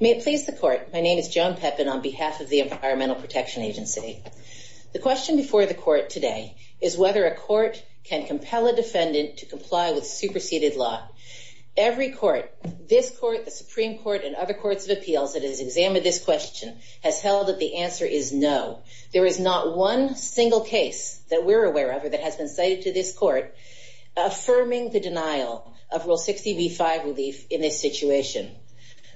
May it please the Court, my name is Joan Pepin on behalf of the Environmental Protection Agency. The question before the Court today is whether a Court can compel a defendant to comply with superseded law. Every Court, this Court, the Supreme Court and other Courts of Appeals that has examined this question has held that the answer is no. There is not one single case that we're aware of or that has been cited to this Court affirming the denial of Rule 60b-5 relief in this situation.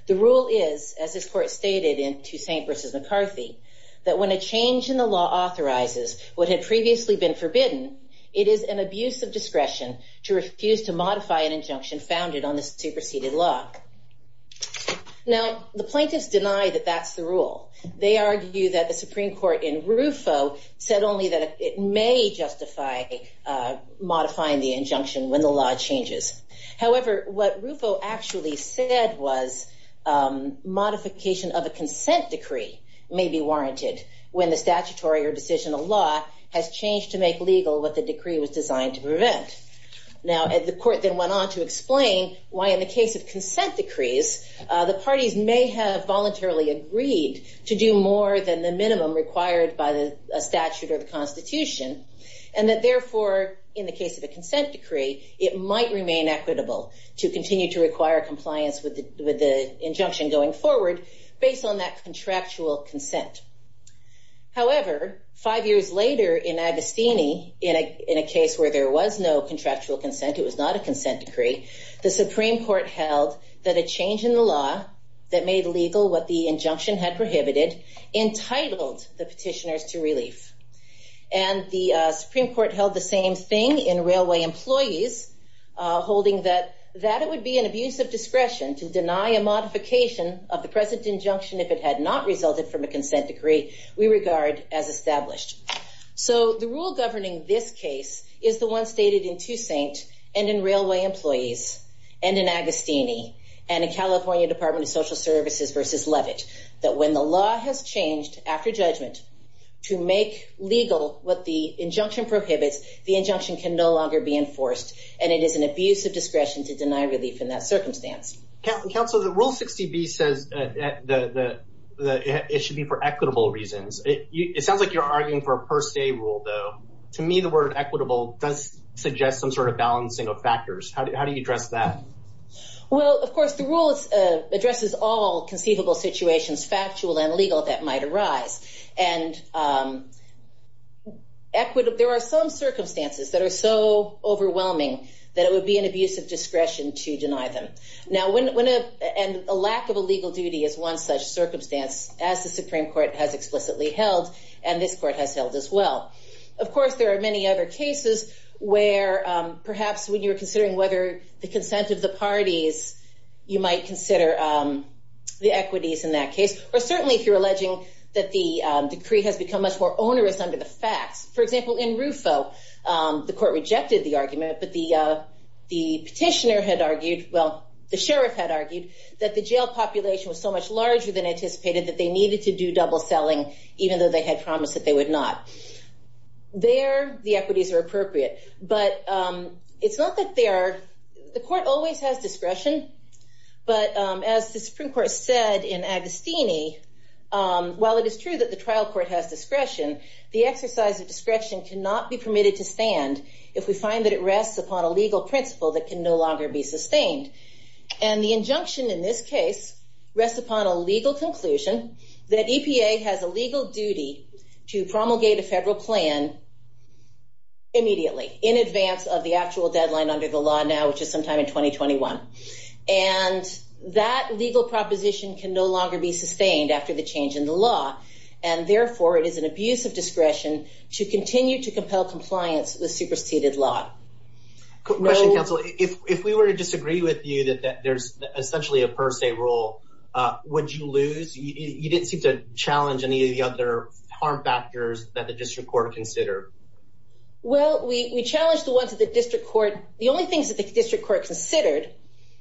The rule is, as this Court stated in Toussaint v. McCarthy, that when a change in the law authorizes what had previously been forbidden, it is an abuse of discretion to refuse to modify an injunction founded on the superseded law. Now, the plaintiffs deny that that's the rule. They argue that the Supreme Court in RUFO said only that it may justify modifying the injunction when the law changes. However, what RUFO actually said was modification of a consent decree may be warranted when the statutory or decisional law has changed to make legal what the decree was designed to prevent. Now, the Court then went on to explain why in the case of consent decrees, the parties may have voluntarily agreed to do more than the in the case of a consent decree, it might remain equitable to continue to require compliance with the injunction going forward based on that contractual consent. However, five years later in Agostini, in a case where there was no contractual consent, it was not a consent decree, the Supreme Court held that a change in the law that made legal what the injunction had prohibited entitled the petitioners to relief. And the Supreme Court held the same thing in railway employees, holding that that it would be an abuse of discretion to deny a modification of the present injunction if it had not resulted from a consent decree, we regard as established. So the rule governing this case is the one stated in Toussaint, and in railway employees, and in Agostini, and in California Department of Social Services versus Levitt, that when the law has changed after judgment, to make legal what the injunction prohibits, the injunction can no longer be enforced. And it is an abuse of discretion to deny relief in that circumstance. Counselor, the rule 60 B says that it should be for equitable reasons. It sounds like you're arguing for a per se rule, though, to me, the word equitable does suggest some sort of balancing of factors. How do you address that? Well, of course, the rule is addresses all conceivable situations, factual and legal that might arise. And equity, there are some circumstances that are so overwhelming, that it would be an abuse of discretion to deny them. Now, when a lack of a legal duty is one such circumstance, as the Supreme Court has explicitly held, and this court has held as well. Of course, there are many other cases, where perhaps when considering whether the consent of the parties, you might consider the equities in that case, or certainly if you're alleging that the decree has become much more onerous under the facts. For example, in Rufo, the court rejected the argument, but the petitioner had argued, well, the sheriff had argued that the jail population was so much larger than anticipated that they needed to do double selling, even though they had promised that they would not. There, the equities are appropriate. But it's not that they are, the court always has discretion. But as the Supreme Court said in Agostini, while it is true that the trial court has discretion, the exercise of discretion cannot be permitted to stand if we find that it rests upon a legal principle that can no longer be sustained. And the injunction in this case, rests upon a legal conclusion that EPA has a legal duty to promulgate a federal plan immediately, in advance of the actual deadline under the law now, which is sometime in 2021. And that legal proposition can no longer be sustained after the change in the law. And therefore, it is an abuse of discretion to continue to compel compliance with superseded law. Question, counsel, if we were to disagree with you that there's essentially a per se rule, would you lose? You didn't seem to challenge any of the other harm factors that the district court considered. Well, we challenged the ones that the district court, the only things that the district court considered,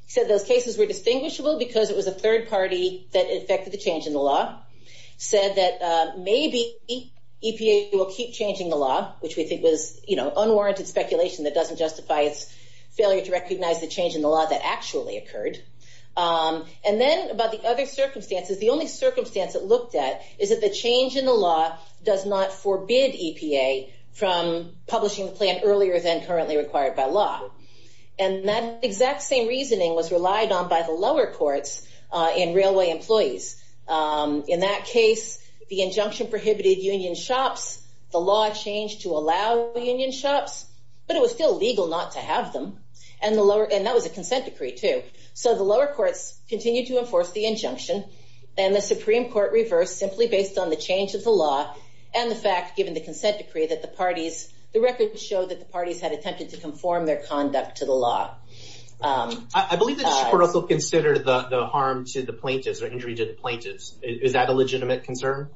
said those cases were distinguishable because it was a third party that affected the change in the law, said that maybe EPA will keep changing the law, which we think was, you know, unwarranted speculation that doesn't justify its failure to recognize the change in the law that actually occurred. And then about the other circumstances, the only circumstance that looked at is that the change in the law does not forbid EPA from publishing the plan earlier than currently required by law. And that exact same reasoning was relied on by the lower courts and railway employees. In that case, the injunction prohibited union shops, the law changed to allow union shops, but it was still legal not to have them. And that was a consent decree, too. So the lower courts continued to enforce the injunction, and the Supreme Court reversed simply based on the change of the law and the fact, given the consent decree, that the parties, the record showed that the parties had attempted to conform their conduct to the law. I believe the district court also considered the harm to the plaintiffs or injury to the plaintiffs. Is that a legitimate concern?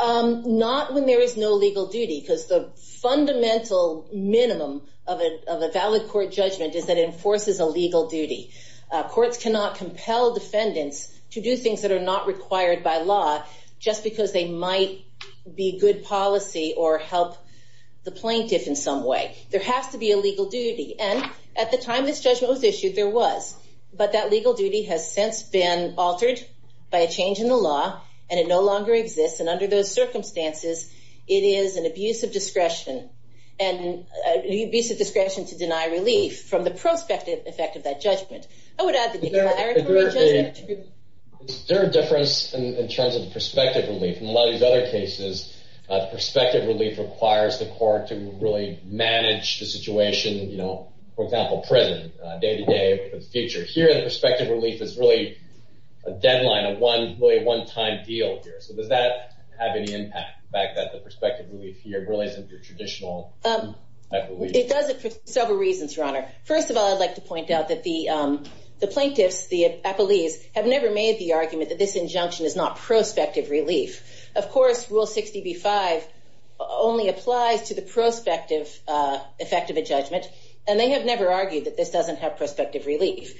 Not when there is no legal duty, because the fundamental minimum of a valid court judgment is that it enforces a legal duty. Courts cannot compel defendants to do things that are not required by law just because they might be good policy or help the plaintiff in some way. There has to be a legal duty. And at the time this judgment was issued, there was. But that legal duty has since been altered by a change in the law, and it no longer exists. And under those circumstances, it is an abuse of discretion and an abuse of discretion to deny relief from the prospective effect of that judgment. I would add that there are different in terms of the prospective relief. In a lot of these other cases, prospective relief requires the court to really manage the situation. For example, prison, day-to-day for the future. Here, the prospective relief is really a deadline, a one-time deal here. So does that have any impact, the fact that the prospective relief here really isn't your traditional relief? It does it for several reasons, Your Honor. First of all, I'd like to point out that the plaintiffs, the appellees, have never made the argument that this injunction is not prospective relief. Of course, Rule 60b-5 only applies to the prospective effect of a judgment. And they have never argued that this doesn't have prospective relief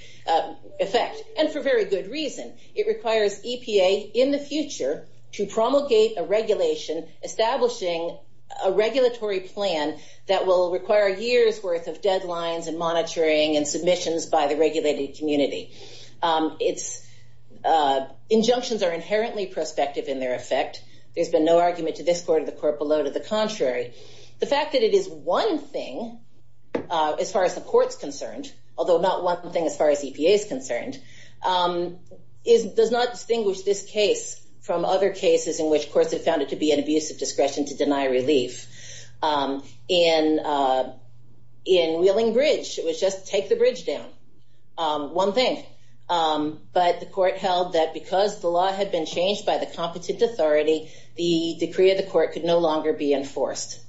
effect, and for very good reason. It requires EPA, in the future, to promulgate a regulation establishing a regulatory plan that will require years' worth of deadlines and monitoring and submissions by the regulated community. Injunctions are inherently prospective in their effect. There's been no argument to this court or the court below to the contrary. The fact that it is one thing, as far as the court's concerned, although not one thing as far as EPA is concerned, does not distinguish this case from other cases in which courts have found it to be an abuse of discretion to deny relief. In Wheeling Bridge, it was just take the bridge down. One thing. But the court held that because the law had been changed by the competent authority, the decree of the court could no longer be enforced.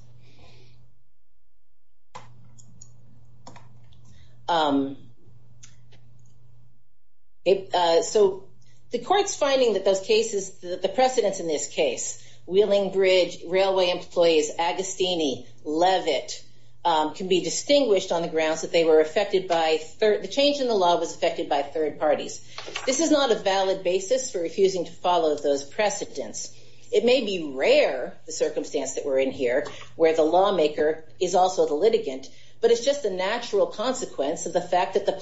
So the court's finding that those cases, the precedence in this case, Wheeling Bridge, Railway Employees, Agostini, Levitt, can be distinguished on the grounds that they were affected by, the change in the law was affected by third parties. This is not a valid basis for refusing to follow those precedents. It may be rare, the circumstance that we're in here, where the lawmaker is also the litigant, but it's just a natural consequence of the fact that the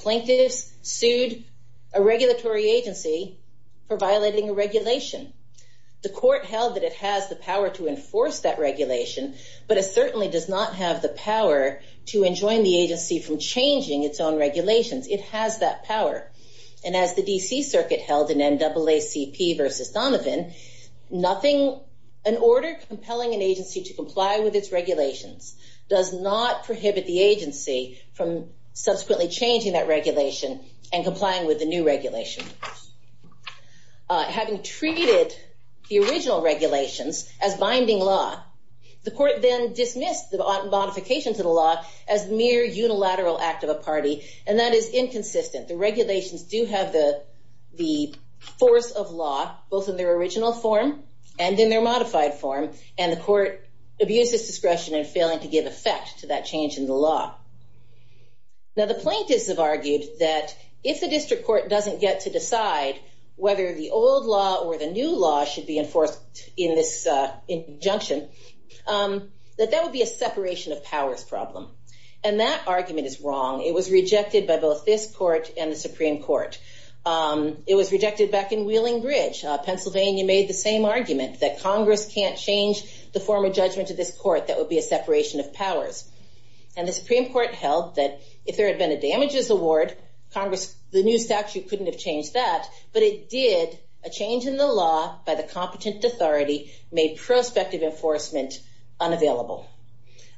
power to enforce that regulation, but it certainly does not have the power to enjoin the agency from changing its own regulations. It has that power. And as the D.C. Circuit held in NAACP versus Donovan, nothing, an order compelling an agency to comply with its regulations does not prohibit the agency from subsequently changing that regulation and complying with the new regulation. Having treated the original regulations as binding law, the court then dismissed the modifications of the law as mere unilateral act of a party, and that is inconsistent. The regulations do have the the force of law, both in their original form and in their modified form, and the court abuses discretion in failing to give effect to that change in the law. Now the plaintiffs have argued that if the district court doesn't get to decide whether the old law or the new law should be enforced in this injunction, that that would be a separation of powers problem. And that argument is wrong. It was rejected by both this court and the Supreme Court. It was rejected back in Wheeling Bridge. Pennsylvania made the same argument that Congress can't change the form of judgment to this court, that would be a separation of powers. And the Supreme Court held that if there had been a damages award, Congress, the new statute couldn't have changed that, but it did. A change in the law by the competent authority made prospective enforcement unavailable.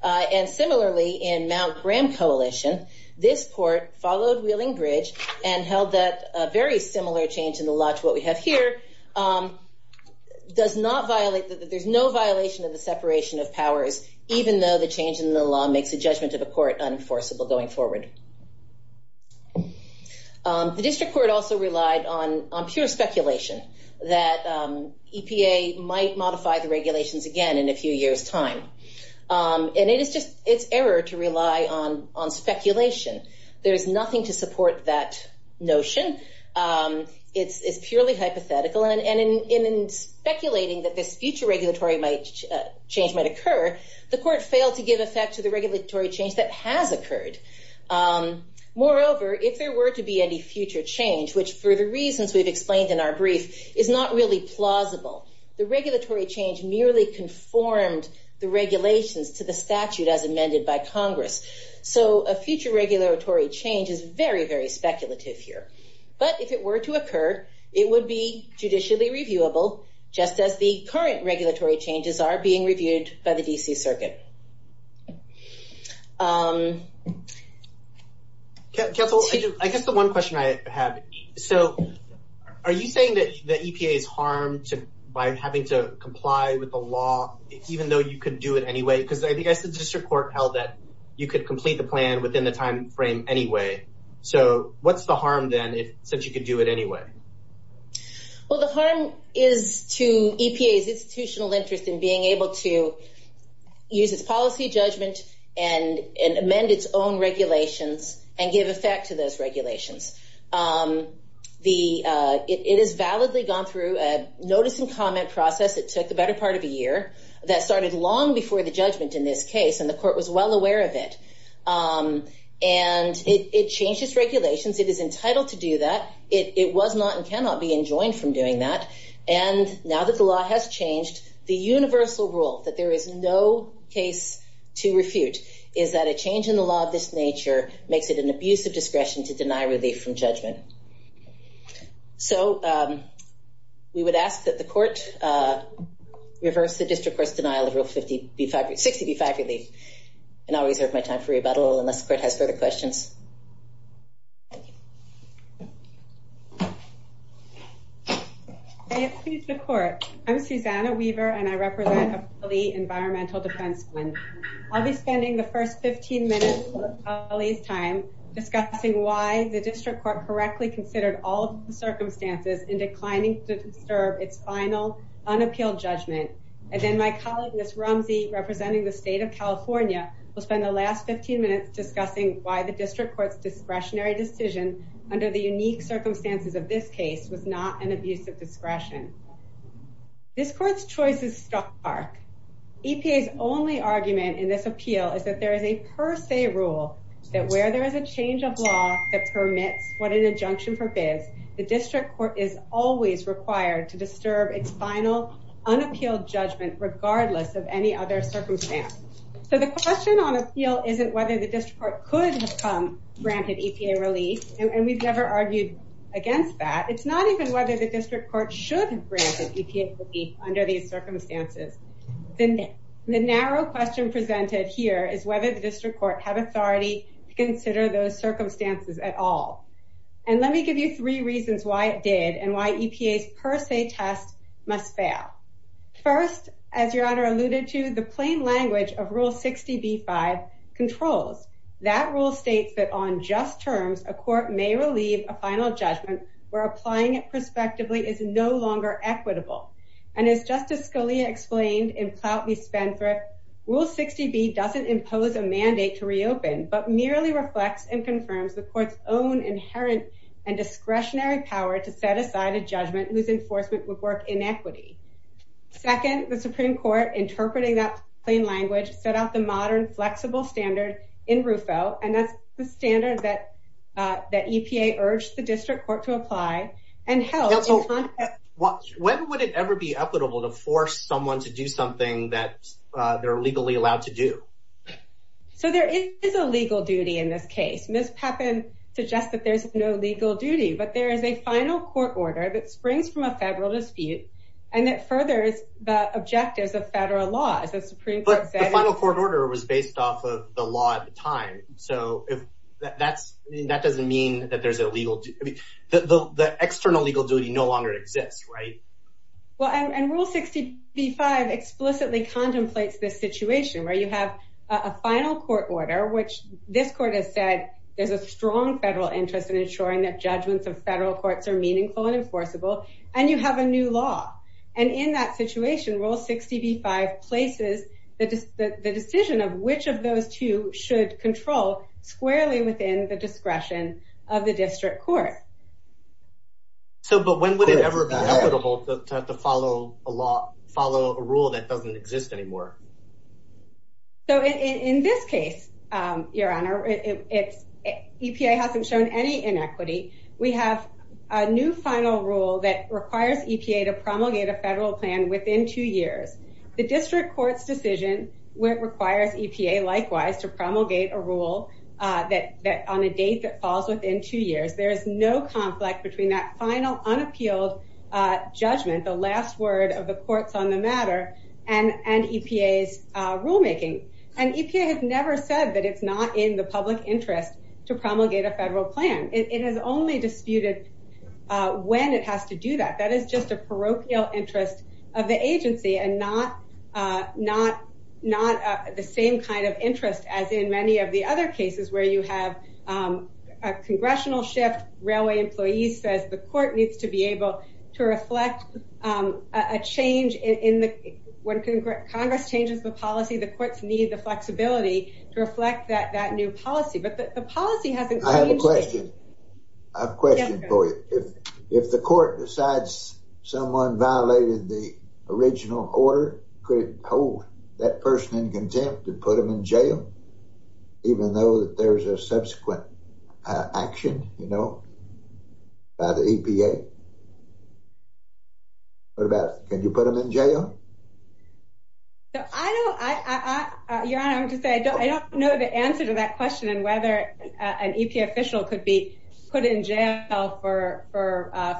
And similarly in Mount Graham Coalition, this court followed Wheeling Bridge and held that a very similar change in the law to what we have here does not violate, that there's no violation of the separation of powers even though the change in the law makes the judgment of the court unenforceable going forward. The district court also relied on pure speculation that EPA might modify the regulations again in a few years time. And it is just, it's error to rely on speculation. There's nothing to support that notion. It's purely hypothetical. And in speculating that this future regulatory change might occur, the court failed to give effect to the Moreover, if there were to be any future change, which for the reasons we've explained in our brief, is not really plausible. The regulatory change merely conformed the regulations to the statute as amended by Congress. So a future regulatory change is very, very speculative here. But if it were to occur, it would be judicially reviewable, just as the current regulatory changes are being by the DC circuit. Counsel, I guess the one question I have, so are you saying that the EPA is harmed by having to comply with the law, even though you could do it anyway? Because I think I said the district court held that you could complete the plan within the timeframe anyway. So what's the harm then, if since you could do it anyway? Well, the harm is to EPA's institutional interest in being able to use its policy judgment and amend its own regulations and give effect to those regulations. It has validly gone through a notice and comment process. It took the better part of a year. That started long before the judgment in this case, and the court was well aware of it. And it changed its regulations. It is entitled to do that. It was not and cannot be enjoined from doing that. And now that the law has changed, the universal rule that there is no case to refute is that a change in the law of this nature makes it an abuse of discretion to deny relief from judgment. So we would ask that the court reverse the district court's denial of Rule 50B5, 60B5 relief. And I'll reserve my time for rebuttal unless the court has further questions. I appeal to the court. I'm Susanna Weaver, and I represent the Environmental Defense Fund. I'll be spending the first 15 minutes of my colleague's time discussing why the district court correctly considered all the circumstances in declining to disturb its final unappealed judgment. And then my colleague, Ms. Rumsey, representing the state of California, will spend the last 15 minutes discussing why the district court's discretionary decision under the unique discretion. This court's choice is stark. EPA's only argument in this appeal is that there is a per se rule that where there is a change of law that permits what an injunction forbids, the district court is always required to disturb its final unappealed judgment regardless of any other circumstance. So the question on appeal isn't whether the district court could have come granted EPA relief, and we've never argued against that. It's not even whether the district court should have granted EPA relief under these circumstances. The narrow question presented here is whether the district court had authority to consider those circumstances at all. And let me give you three reasons why it did and why EPA's per se test must fail. First, as Your Honor just terms, a court may relieve a final judgment where applying it perspectively is no longer equitable. And as Justice Scalia explained in Ploutney-Spendthrift, Rule 60B doesn't impose a mandate to reopen but merely reflects and confirms the court's own inherent and discretionary power to set aside a judgment whose enforcement would work in equity. Second, the Supreme Court, interpreting that plain language, set out the modern flexible standard in RUFO, and that's the standard that EPA urged the district court to apply and held. When would it ever be equitable to force someone to do something that they're legally allowed to do? So there is a legal duty in this case. Ms. Pepin suggests that there's no legal duty, but there is a final court order that springs from a federal dispute and that furthers the objectives of federal law, as the Supreme Court said. But the final court order was based off of the law at the time. So that doesn't mean that there's a legal... The external legal duty no longer exists, right? Well, and Rule 60B-5 explicitly contemplates this situation where you have a final court order, which this court has said there's a strong federal interest in ensuring that judgments of federal courts are meaningful and enforceable, and you have a new law. And in that situation, Rule 60B-5 places the decision of which of those two should control squarely within the discretion of the district court. So, but when would it ever be equitable to have to follow a law, follow a rule that doesn't exist anymore? So in this case, Your Honor, EPA hasn't shown any inequity. We have a new final rule that requires EPA to promulgate a federal plan within two years. The district court's decision requires EPA likewise to promulgate a rule on a date that falls within two years. There is no conflict between that final unappealed judgment, the last word of the courts on the matter, and EPA's rulemaking. And EPA has never said that it's not in the public interest to promulgate a federal plan. It has only disputed when it has to do that. That is just a parochial interest of the agency and not the same kind of interest as in many of the other cases where you have a congressional shift. Railway employees says the court needs to be able to reflect a change in the, when Congress changes the policy, the courts need the flexibility to reflect that new policy. But the policy hasn't changed. I have a question. I have a question for you. If the court decides someone violated the original order, could it hold that person in contempt and put them in jail, even though that there's a subsequent action, you know, by the EPA? What about it? Can you put them in jail? No, I don't. Your Honor, I don't know the answer to that question and whether an EPA official could be put in jail for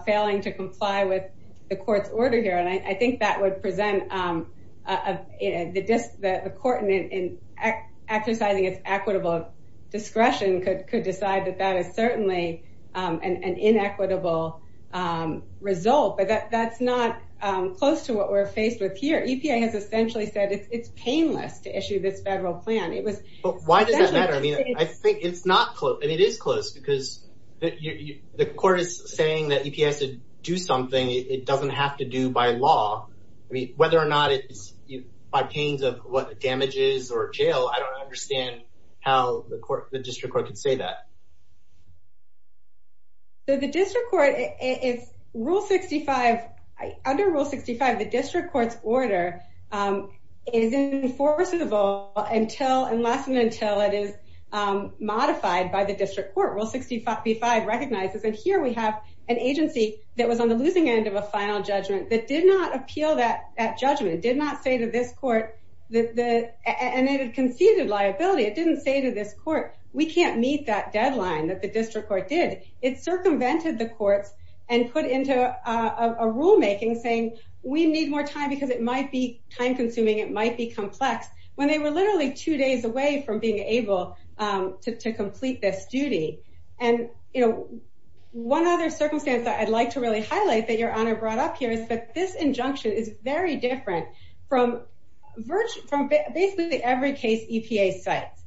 failing to comply with the court's order here. And I think that would present the court in exercising its equitable discretion could decide that that is certainly an inequitable result. But that's not close to what we're faced with here. EPA has essentially said it's painless to issue this federal plan. Why does that matter? I mean, I think it's not close. I mean, it is close because the court is saying that EPA has to do something it doesn't have to do by law. I mean, whether or not it's by pains of what damages or jail, I don't understand how the court, the district court could say that. So the district court, it's Rule 65. Under Rule 65, the district court's order is enforceable until and less than until it is modified by the district court. Rule 65b-5 recognizes that here we have an agency that was on the losing end of a final judgment that did not appeal that judgment, did not say to this court, and it had conceded liability, it didn't say to this court, we can't meet that deadline that the district court did. It circumvented the courts and put into a rulemaking saying, we need more time because it might be time consuming, it might be complex when they were literally two days away from being able to complete this duty. And, you know, one other circumstance that I'd like to really highlight that your honor brought up here is that this injunction is very different from virtually from basically every case EPA cites.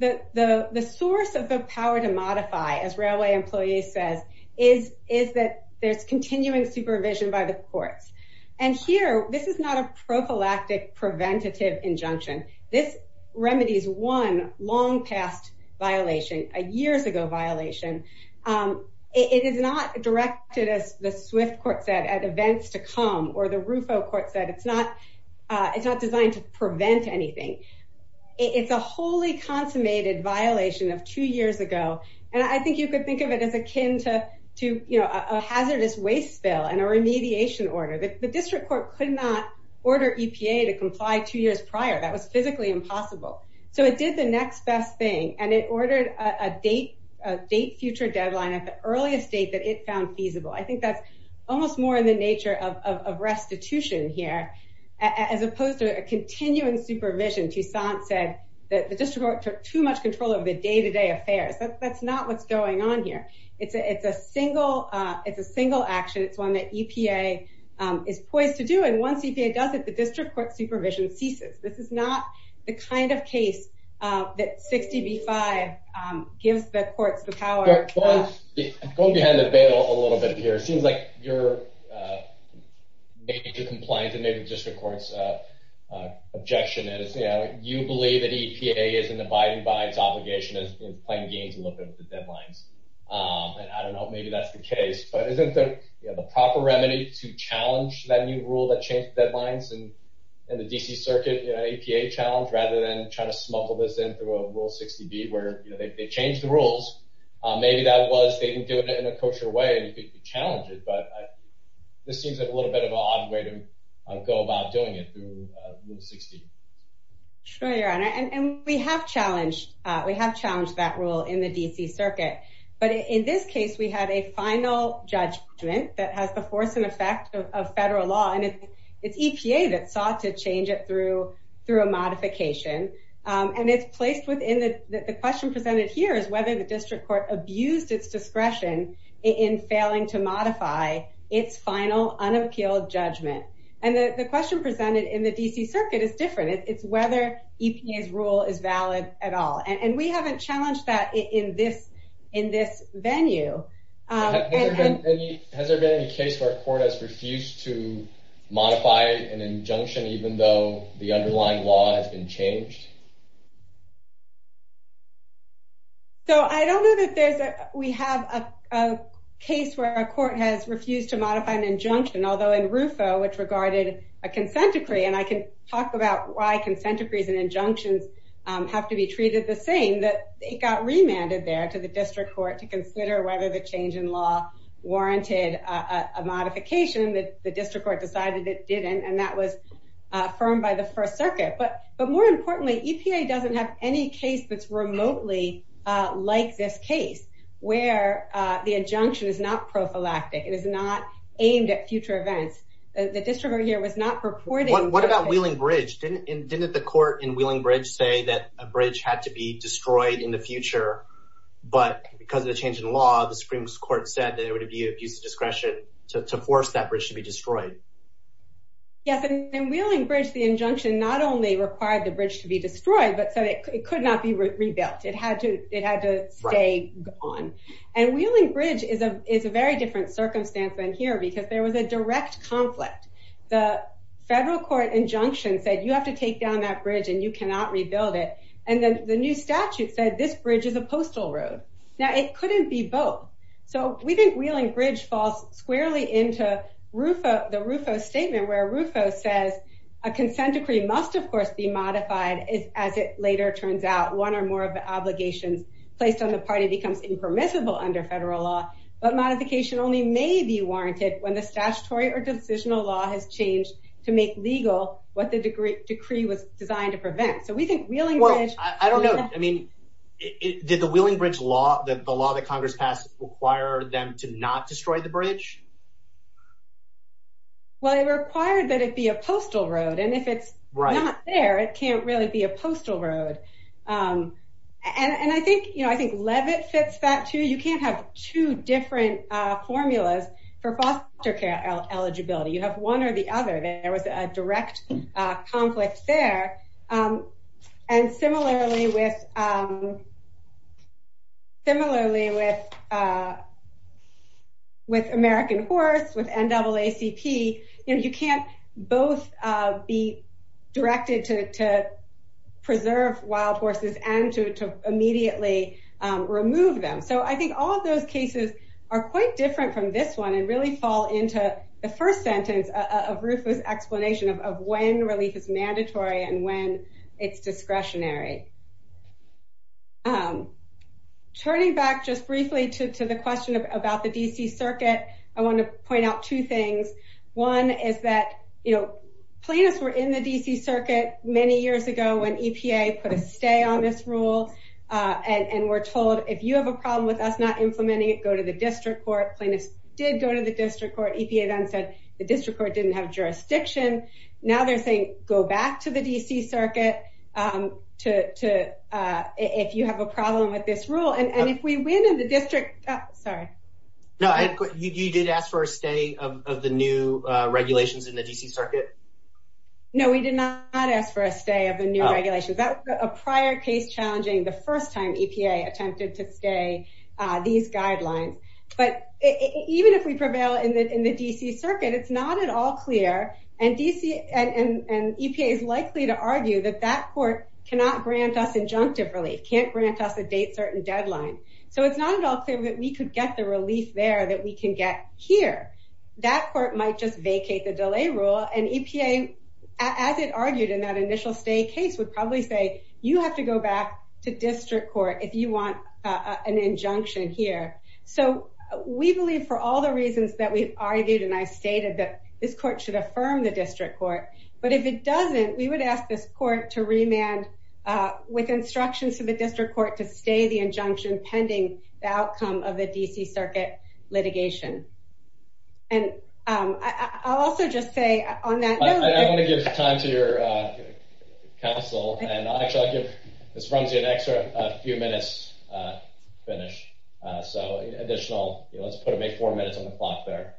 The source of the power to modify, as Railway Employees says, is that there's continuing supervision by the courts. And here, this is not a prophylactic preventative injunction. This remedies one long past violation, a years ago violation. It is not directed, as the Swift court said, at events to come, or the Rufo court said, it's not designed to prevent anything. It's a wholly consummated violation of two years ago. And I think you could think of it as akin to, you know, a hazardous waste bill and a remediation order. The district court could not order EPA to comply two years prior. That was physically impossible. So it did the next best thing. And it ordered a date, a date future deadline at the earliest date that it found feasible. I think that's almost more in the nature of restitution here, as opposed to a continuing supervision. Toussaint said that the district court took too much control over the day-to-day affairs. That's not what's going on here. It's a single action. It's one that EPA is poised to do. And once EPA does it, the district court supervision ceases. This is not the kind of case that 60B5 gives the courts the power. I'm going behind the veil a little bit here. It seems like your major compliance and maybe the district court's objection is, you know, you believe that EPA is an abiding by its obligation, is playing games a little bit with the deadlines. And I don't know, maybe that's the case. But isn't there, you know, the proper remedy to challenge that new rule that changed deadlines and the D.C. Circuit, you know, EPA challenge, rather than trying to smuggle this in through a Rule 60B, where, you know, they changed the rules. Maybe that was they didn't do it in a kosher way, and you could challenge it. But this seems like a little bit of an odd way to go about doing it through Rule 60. Sure, Your Honor. And we have challenged, we have challenged that rule in the D.C. Circuit. But in this case, we had a final judgment that has the force and effect of federal law. And it's EPA that sought to change it through a modification. And it's placed within the question presented here is whether the district court abused its discretion in failing to modify its final unappealed judgment. And the question presented in the D.C. Circuit is different. It's whether EPA's rule is valid at all. And we haven't challenged that in this venue. Has there been any case where a court has refused to modify an injunction, even though the underlying law has been changed? So I don't know that there's, we have a case where a court has refused to modify an injunction, although in RUFO, which regarded a consent decree, and I can talk about why consent decrees and injunctions have to be treated the same, that it got remanded there to the district court to consider whether the change in law warranted a modification that the district court decided it didn't. And that was affirmed by the First Circuit. But more importantly, EPA doesn't have any case that's the district over here was not purporting. What about Wheeling Bridge? Didn't the court in Wheeling Bridge say that a bridge had to be destroyed in the future, but because of the change in law, the Supreme Court said that it would be an abuse of discretion to force that bridge to be destroyed? Yes, in Wheeling Bridge, the injunction not only required the bridge to be destroyed, but so it could not be rebuilt. It had to stay gone. And Wheeling Bridge is a very different circumstance than here because there was a direct conflict. The federal court injunction said you have to take down that bridge and you cannot rebuild it. And then the new statute said this bridge is a postal road. Now it couldn't be both. So we think Wheeling Bridge falls squarely into RUFO, the RUFO statement where RUFO says a consent decree must, of course, be modified as it later turns out one or more of the obligations placed on the party becomes impermissible under federal law. But modification only may be warranted when the statutory or decisional law has changed to make legal what the decree was designed to prevent. So we think Wheeling Bridge... Well, I don't know. I mean, did the Wheeling Bridge law, the law that Congress passed, require them to not destroy the bridge? Well, it required that it be a postal road, and if it's not there, it can't really be a postal road. And I think, you know, I think two different formulas for foster care eligibility. You have one or the other. There was a direct conflict there. And similarly with American Horse, with NAACP, you know, you can't both be directed to preserve wild horses and to immediately remove them. So I think all those cases are quite different from this one and really fall into the first sentence of RUFO's explanation of when relief is mandatory and when it's discretionary. Turning back just briefly to the question about the D.C. Circuit, I want to point out two things. One is that, you know, plaintiffs were in the D.C. Circuit many years ago when EPA put a stay on this rule and were not implementing it. Go to the district court. Plaintiffs did go to the district court. EPA then said the district court didn't have jurisdiction. Now they're saying go back to the D.C. Circuit if you have a problem with this rule. And if we win in the district, sorry. No, you did ask for a stay of the new regulations in the D.C. Circuit? No, we did not ask for a stay of the new regulations. A prior case challenging the first time EPA attempted to stay these guidelines. But even if we prevail in the D.C. Circuit, it's not at all clear and EPA is likely to argue that that court cannot grant us injunctive relief, can't grant us a date certain deadline. So it's not at all clear that we could get the relief there that we can get here. That court might just vacate the delay rule and EPA, as it argued in that initial stay case, would probably say you have to go back to district court if you want an injunction here. So we believe for all the reasons that we've argued and I stated that this court should affirm the district court. But if it doesn't, we would ask this court to remand with instructions to the district court to stay the injunction pending the outcome of the D.C. Council. And actually, I'll give Ms. Rumsey an extra few minutes to finish. So additional, let's put it, make four minutes on the clock there.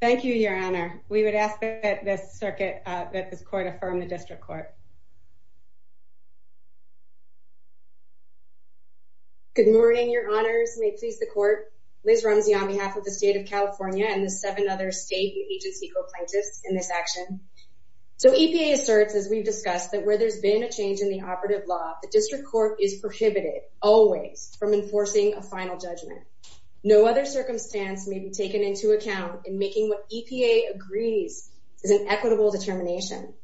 Thank you, Your Honor. We would ask that this circuit, that this court affirm the district court. Good morning, Your Honors. May it please the court. Liz Rumsey on behalf of the state of So EPA asserts, as we've discussed, that where there's been a change in the operative law, the district court is prohibited always from enforcing a final judgment. No other circumstance may be taken into account in making what EPA agrees is an equitable determination.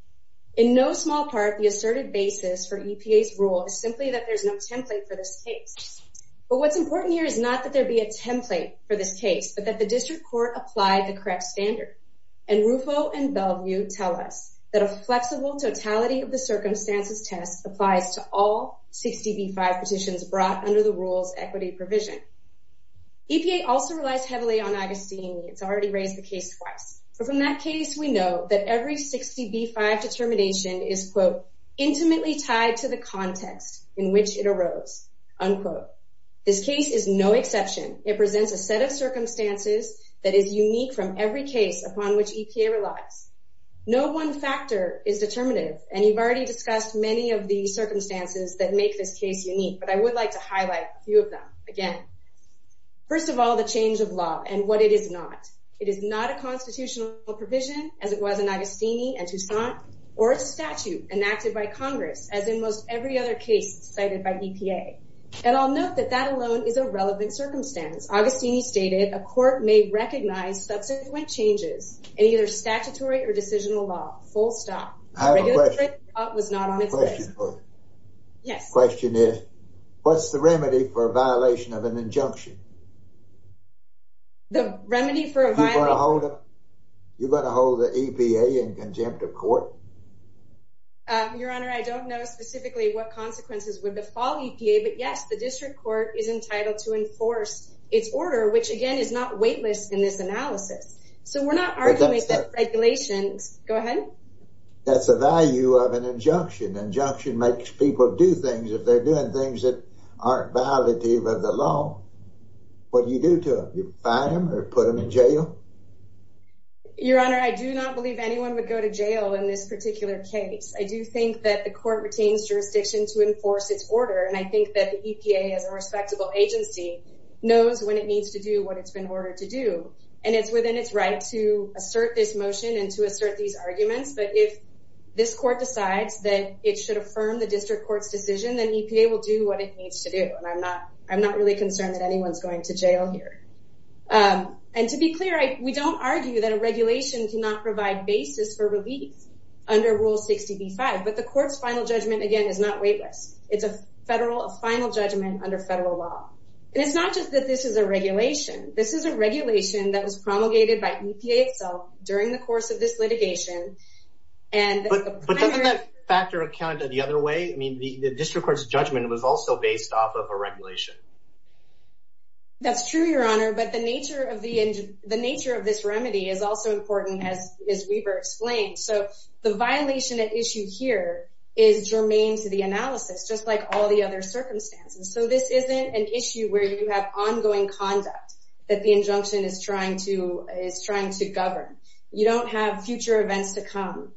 In no small part, the asserted basis for EPA's rule is simply that there's no template for this case. But what's important here is not that there be a template for this case, but that the district court applied the correct standard. And Rufo and Bellevue tell us that a flexible totality of the circumstances test applies to all 60B5 petitions brought under the rules equity provision. EPA also relies heavily on Augustine. It's already raised the case twice. But from that case, we know that every 60B5 determination is, quote, intimately tied to the context in which it arose, unquote. This case is no exception. It presents a set of circumstances that is unique from every case upon which EPA relies. No one factor is determinative. And you've already discussed many of the circumstances that make this case unique. But I would like to highlight a few of them again. First of all, the change of law and what it is not. It is not a constitutional provision, as it was in Augustine and Toussaint, or a statute enacted by Congress, as in most other cases cited by EPA. And I'll note that that alone is a relevant circumstance. Augustine stated a court may recognize subsequent changes in either statutory or decisional law, full stop. Yes. Question is, what's the remedy for a violation of an injunction? The remedy for a violation? You're going to hold the EPA in contempt of court? Your Honor, I don't know specifically what consequences would befall EPA. But yes, the district court is entitled to enforce its order, which, again, is not weightless in this analysis. So we're not arguing regulations. Go ahead. That's the value of an injunction. Injunction makes people do things if they're doing things that aren't violative of the law. What do you do to them? You fine them or put them in jail? Your Honor, I do not believe anyone would go to jail in this particular case. I do think that the court retains jurisdiction to enforce its order. And I think that the EPA, as a respectable agency, knows when it needs to do what it's been ordered to do. And it's within its right to assert this motion and to assert these arguments. But if this court decides that it should affirm the district court's decision, then EPA will do what it needs to do. And I'm not really concerned that we don't argue that a regulation cannot provide basis for relief under Rule 60b-5. But the court's final judgment, again, is not weightless. It's a federal final judgment under federal law. And it's not just that this is a regulation. This is a regulation that was promulgated by EPA itself during the course of this litigation. But doesn't that factor account the other way? I mean, the district court's judgment was also based off of a regulation. That's true, Your Honor. But the nature of this remedy is also important, as Weaver explained. So the violation at issue here is germane to the analysis, just like all the other circumstances. So this isn't an issue where you have ongoing conduct that the injunction is trying to govern. You don't have future events to come.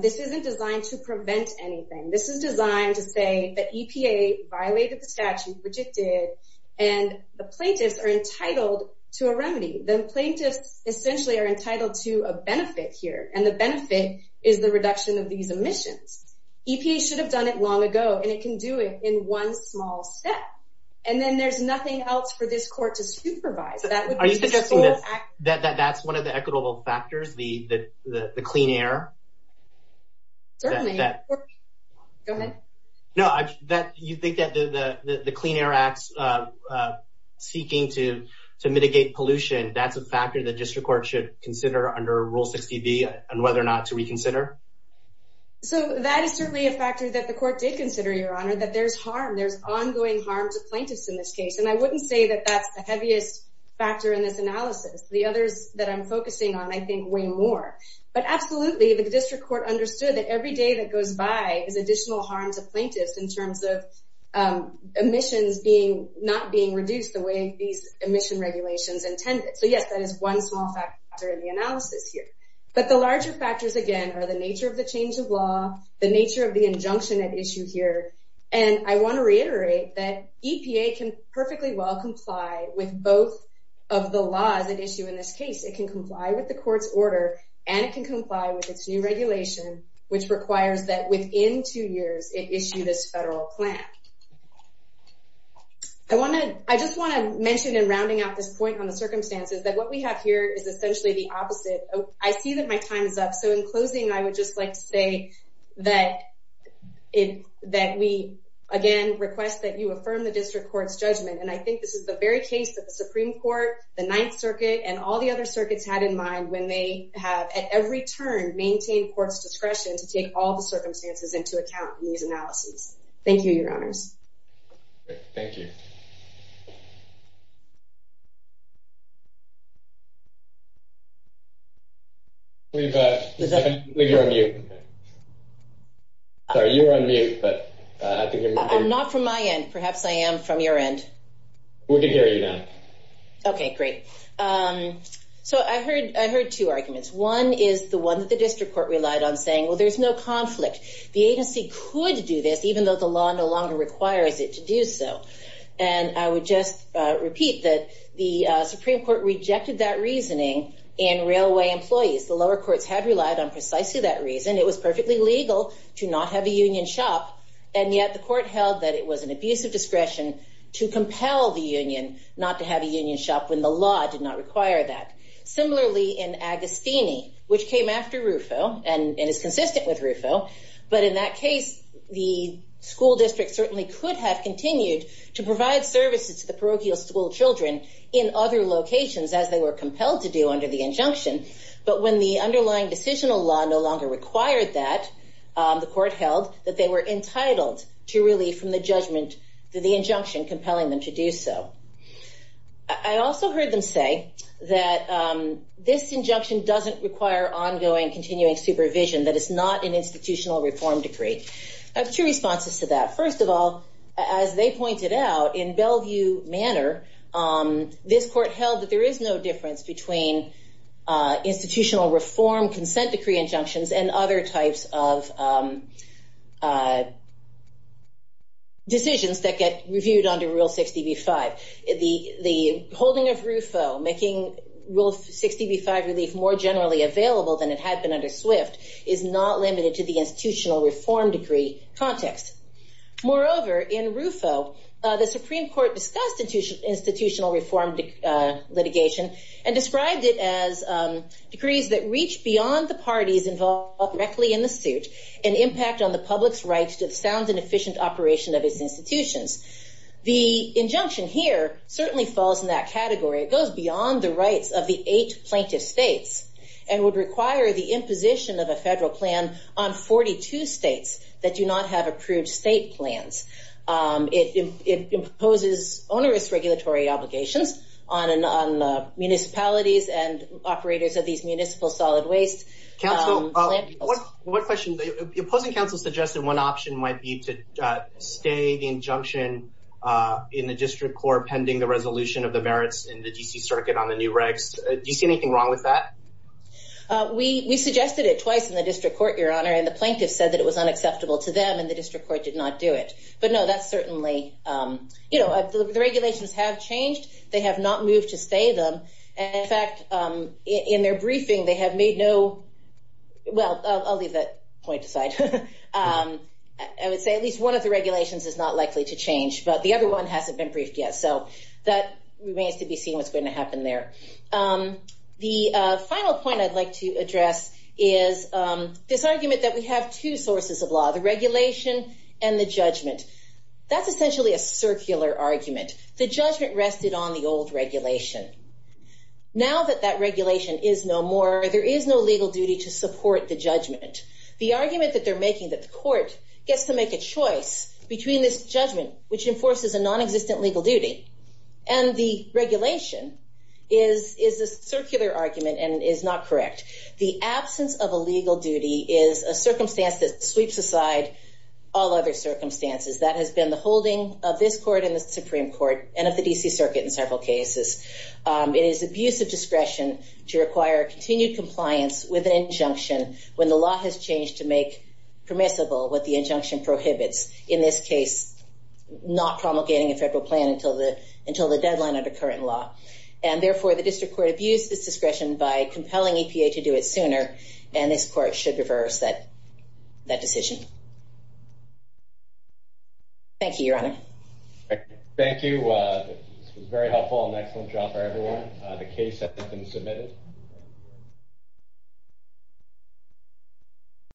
This isn't designed to prevent anything. This is designed to say that EPA violated the statute, rejected, and the plaintiffs are entitled to a remedy. The plaintiffs essentially are entitled to a benefit here. And the benefit is the reduction of these emissions. EPA should have done it long ago, and it can do it in one small step. And then there's nothing else for this court to supervise. Are you suggesting that that's one of the equitable factors, the clean air? Certainly. Go ahead. No, you think that the Clean Air Act's seeking to mitigate pollution, that's a factor that district court should consider under Rule 60B on whether or not to reconsider? So that is certainly a factor that the court did consider, Your Honor, that there's harm. There's ongoing harm to plaintiffs in this case. And I wouldn't say that that's the heaviest factor in this analysis. The others that I'm focusing on, I think, weigh more. But absolutely, the district court understood that every day that goes by is additional harm to plaintiffs in terms of emissions not being reduced the way these emission regulations intended. So yes, that is one small factor in the analysis here. But the larger factors, again, are the nature of the change of law, the nature of the injunction at issue here. And I want to of the laws at issue in this case. It can comply with the court's order, and it can comply with its new regulation, which requires that within two years it issue this federal plan. I just want to mention in rounding out this point on the circumstances that what we have here is essentially the opposite. I see that my time is up. So in closing, I would just like to say that we, again, request that you affirm the district court's judgment. And I think this is the very case that the Supreme Court, the Ninth Circuit, and all the other circuits had in mind when they have, at every turn, maintained court's discretion to take all the circumstances into account in these analyses. Thank you, Your Honors. Thank you. I believe you're on mute. Sorry, you were on mute. I'm not from my end. Perhaps I am from your end. We can hear you now. Okay, great. So I heard two arguments. One is the one that the district court relied on saying, well, there's no conflict. The agency could do this, even though the law no longer requires it to do so. And I would just repeat that the Supreme Court rejected that reasoning in railway employees. The lower courts have relied on precisely that reason. It was perfectly legal to not have a union shop, and yet the court held that it was an abuse of discretion to compel the union not to have a union shop when the law did not require that. Similarly, in Agostini, which came after Rufo, and is consistent with Rufo, but in that case, the school district certainly could have continued to provide services to the parochial school children in other locations as they were compelled to do under the injunction. But when the underlying decisional law no longer required that, the court held that they were entitled to relief from the judgment that the injunction compelling them to do so. I also heard them say that this injunction doesn't require ongoing continuing supervision, that it's not an institutional reform decree. I have two responses to that. First of all, as they pointed out, in Bellevue Manor, this court held that there is no difference between institutional reform consent decree injunctions and other types of decisions that get reviewed under Rule 60b-5. The holding of Rufo, making Rule 60b-5 relief more generally available than it had been under Swift, is not limited to the institutional reform decree context. Moreover, in Rufo, the Supreme Court discussed institutional reform litigation and described it as decrees that reach beyond the parties involved directly in the suit and impact on the public's rights to the sound and efficient operation of its institutions. The injunction here certainly falls in that category. It goes beyond the rights of the eight plaintiff states and would require the imposition of a federal plan on 42 states that not have approved state plans. It imposes onerous regulatory obligations on municipalities and operators of these municipal solid waste plants. What question? The opposing counsel suggested one option might be to stay the injunction in the district court pending the resolution of the merits in the D.C. Circuit on the new regs. Do you see anything wrong with that? We suggested it twice in the district court, Your Honor, and the plaintiff said that it was unacceptable to them and the district court did not do it. But no, that's certainly, you know, the regulations have changed. They have not moved to stay them. In fact, in their briefing, they have made no, well, I'll leave that point aside. I would say at least one of the regulations is not likely to change, but the other one hasn't been briefed yet. So that remains to be seen what's going to happen there. The final point I'd like to address is this argument that we have two sources of law, the regulation and the judgment. That's essentially a circular argument. The judgment rested on the old regulation. Now that that regulation is no more, there is no legal duty to support the judgment. The argument that they're making that the court gets to make a choice between this judgment, which enforces a non-existent legal duty and the regulation, is a circular argument and is not correct. The absence of a legal duty is a circumstance that sweeps aside all other circumstances. That has been the holding of this court in the Supreme Court and of the D.C. Circuit in several cases. It is abuse of discretion to require continued compliance with an injunction when the law has changed to make permissible what the injunction prohibits. In this case, not promulgating a federal plan until the deadline under current law. And therefore, the district court abused this discretion by compelling EPA to do it sooner and this court should reverse that decision. Thank you, Your Honor. Thank you. This was very helpful and an excellent job for everyone. The case has been submitted.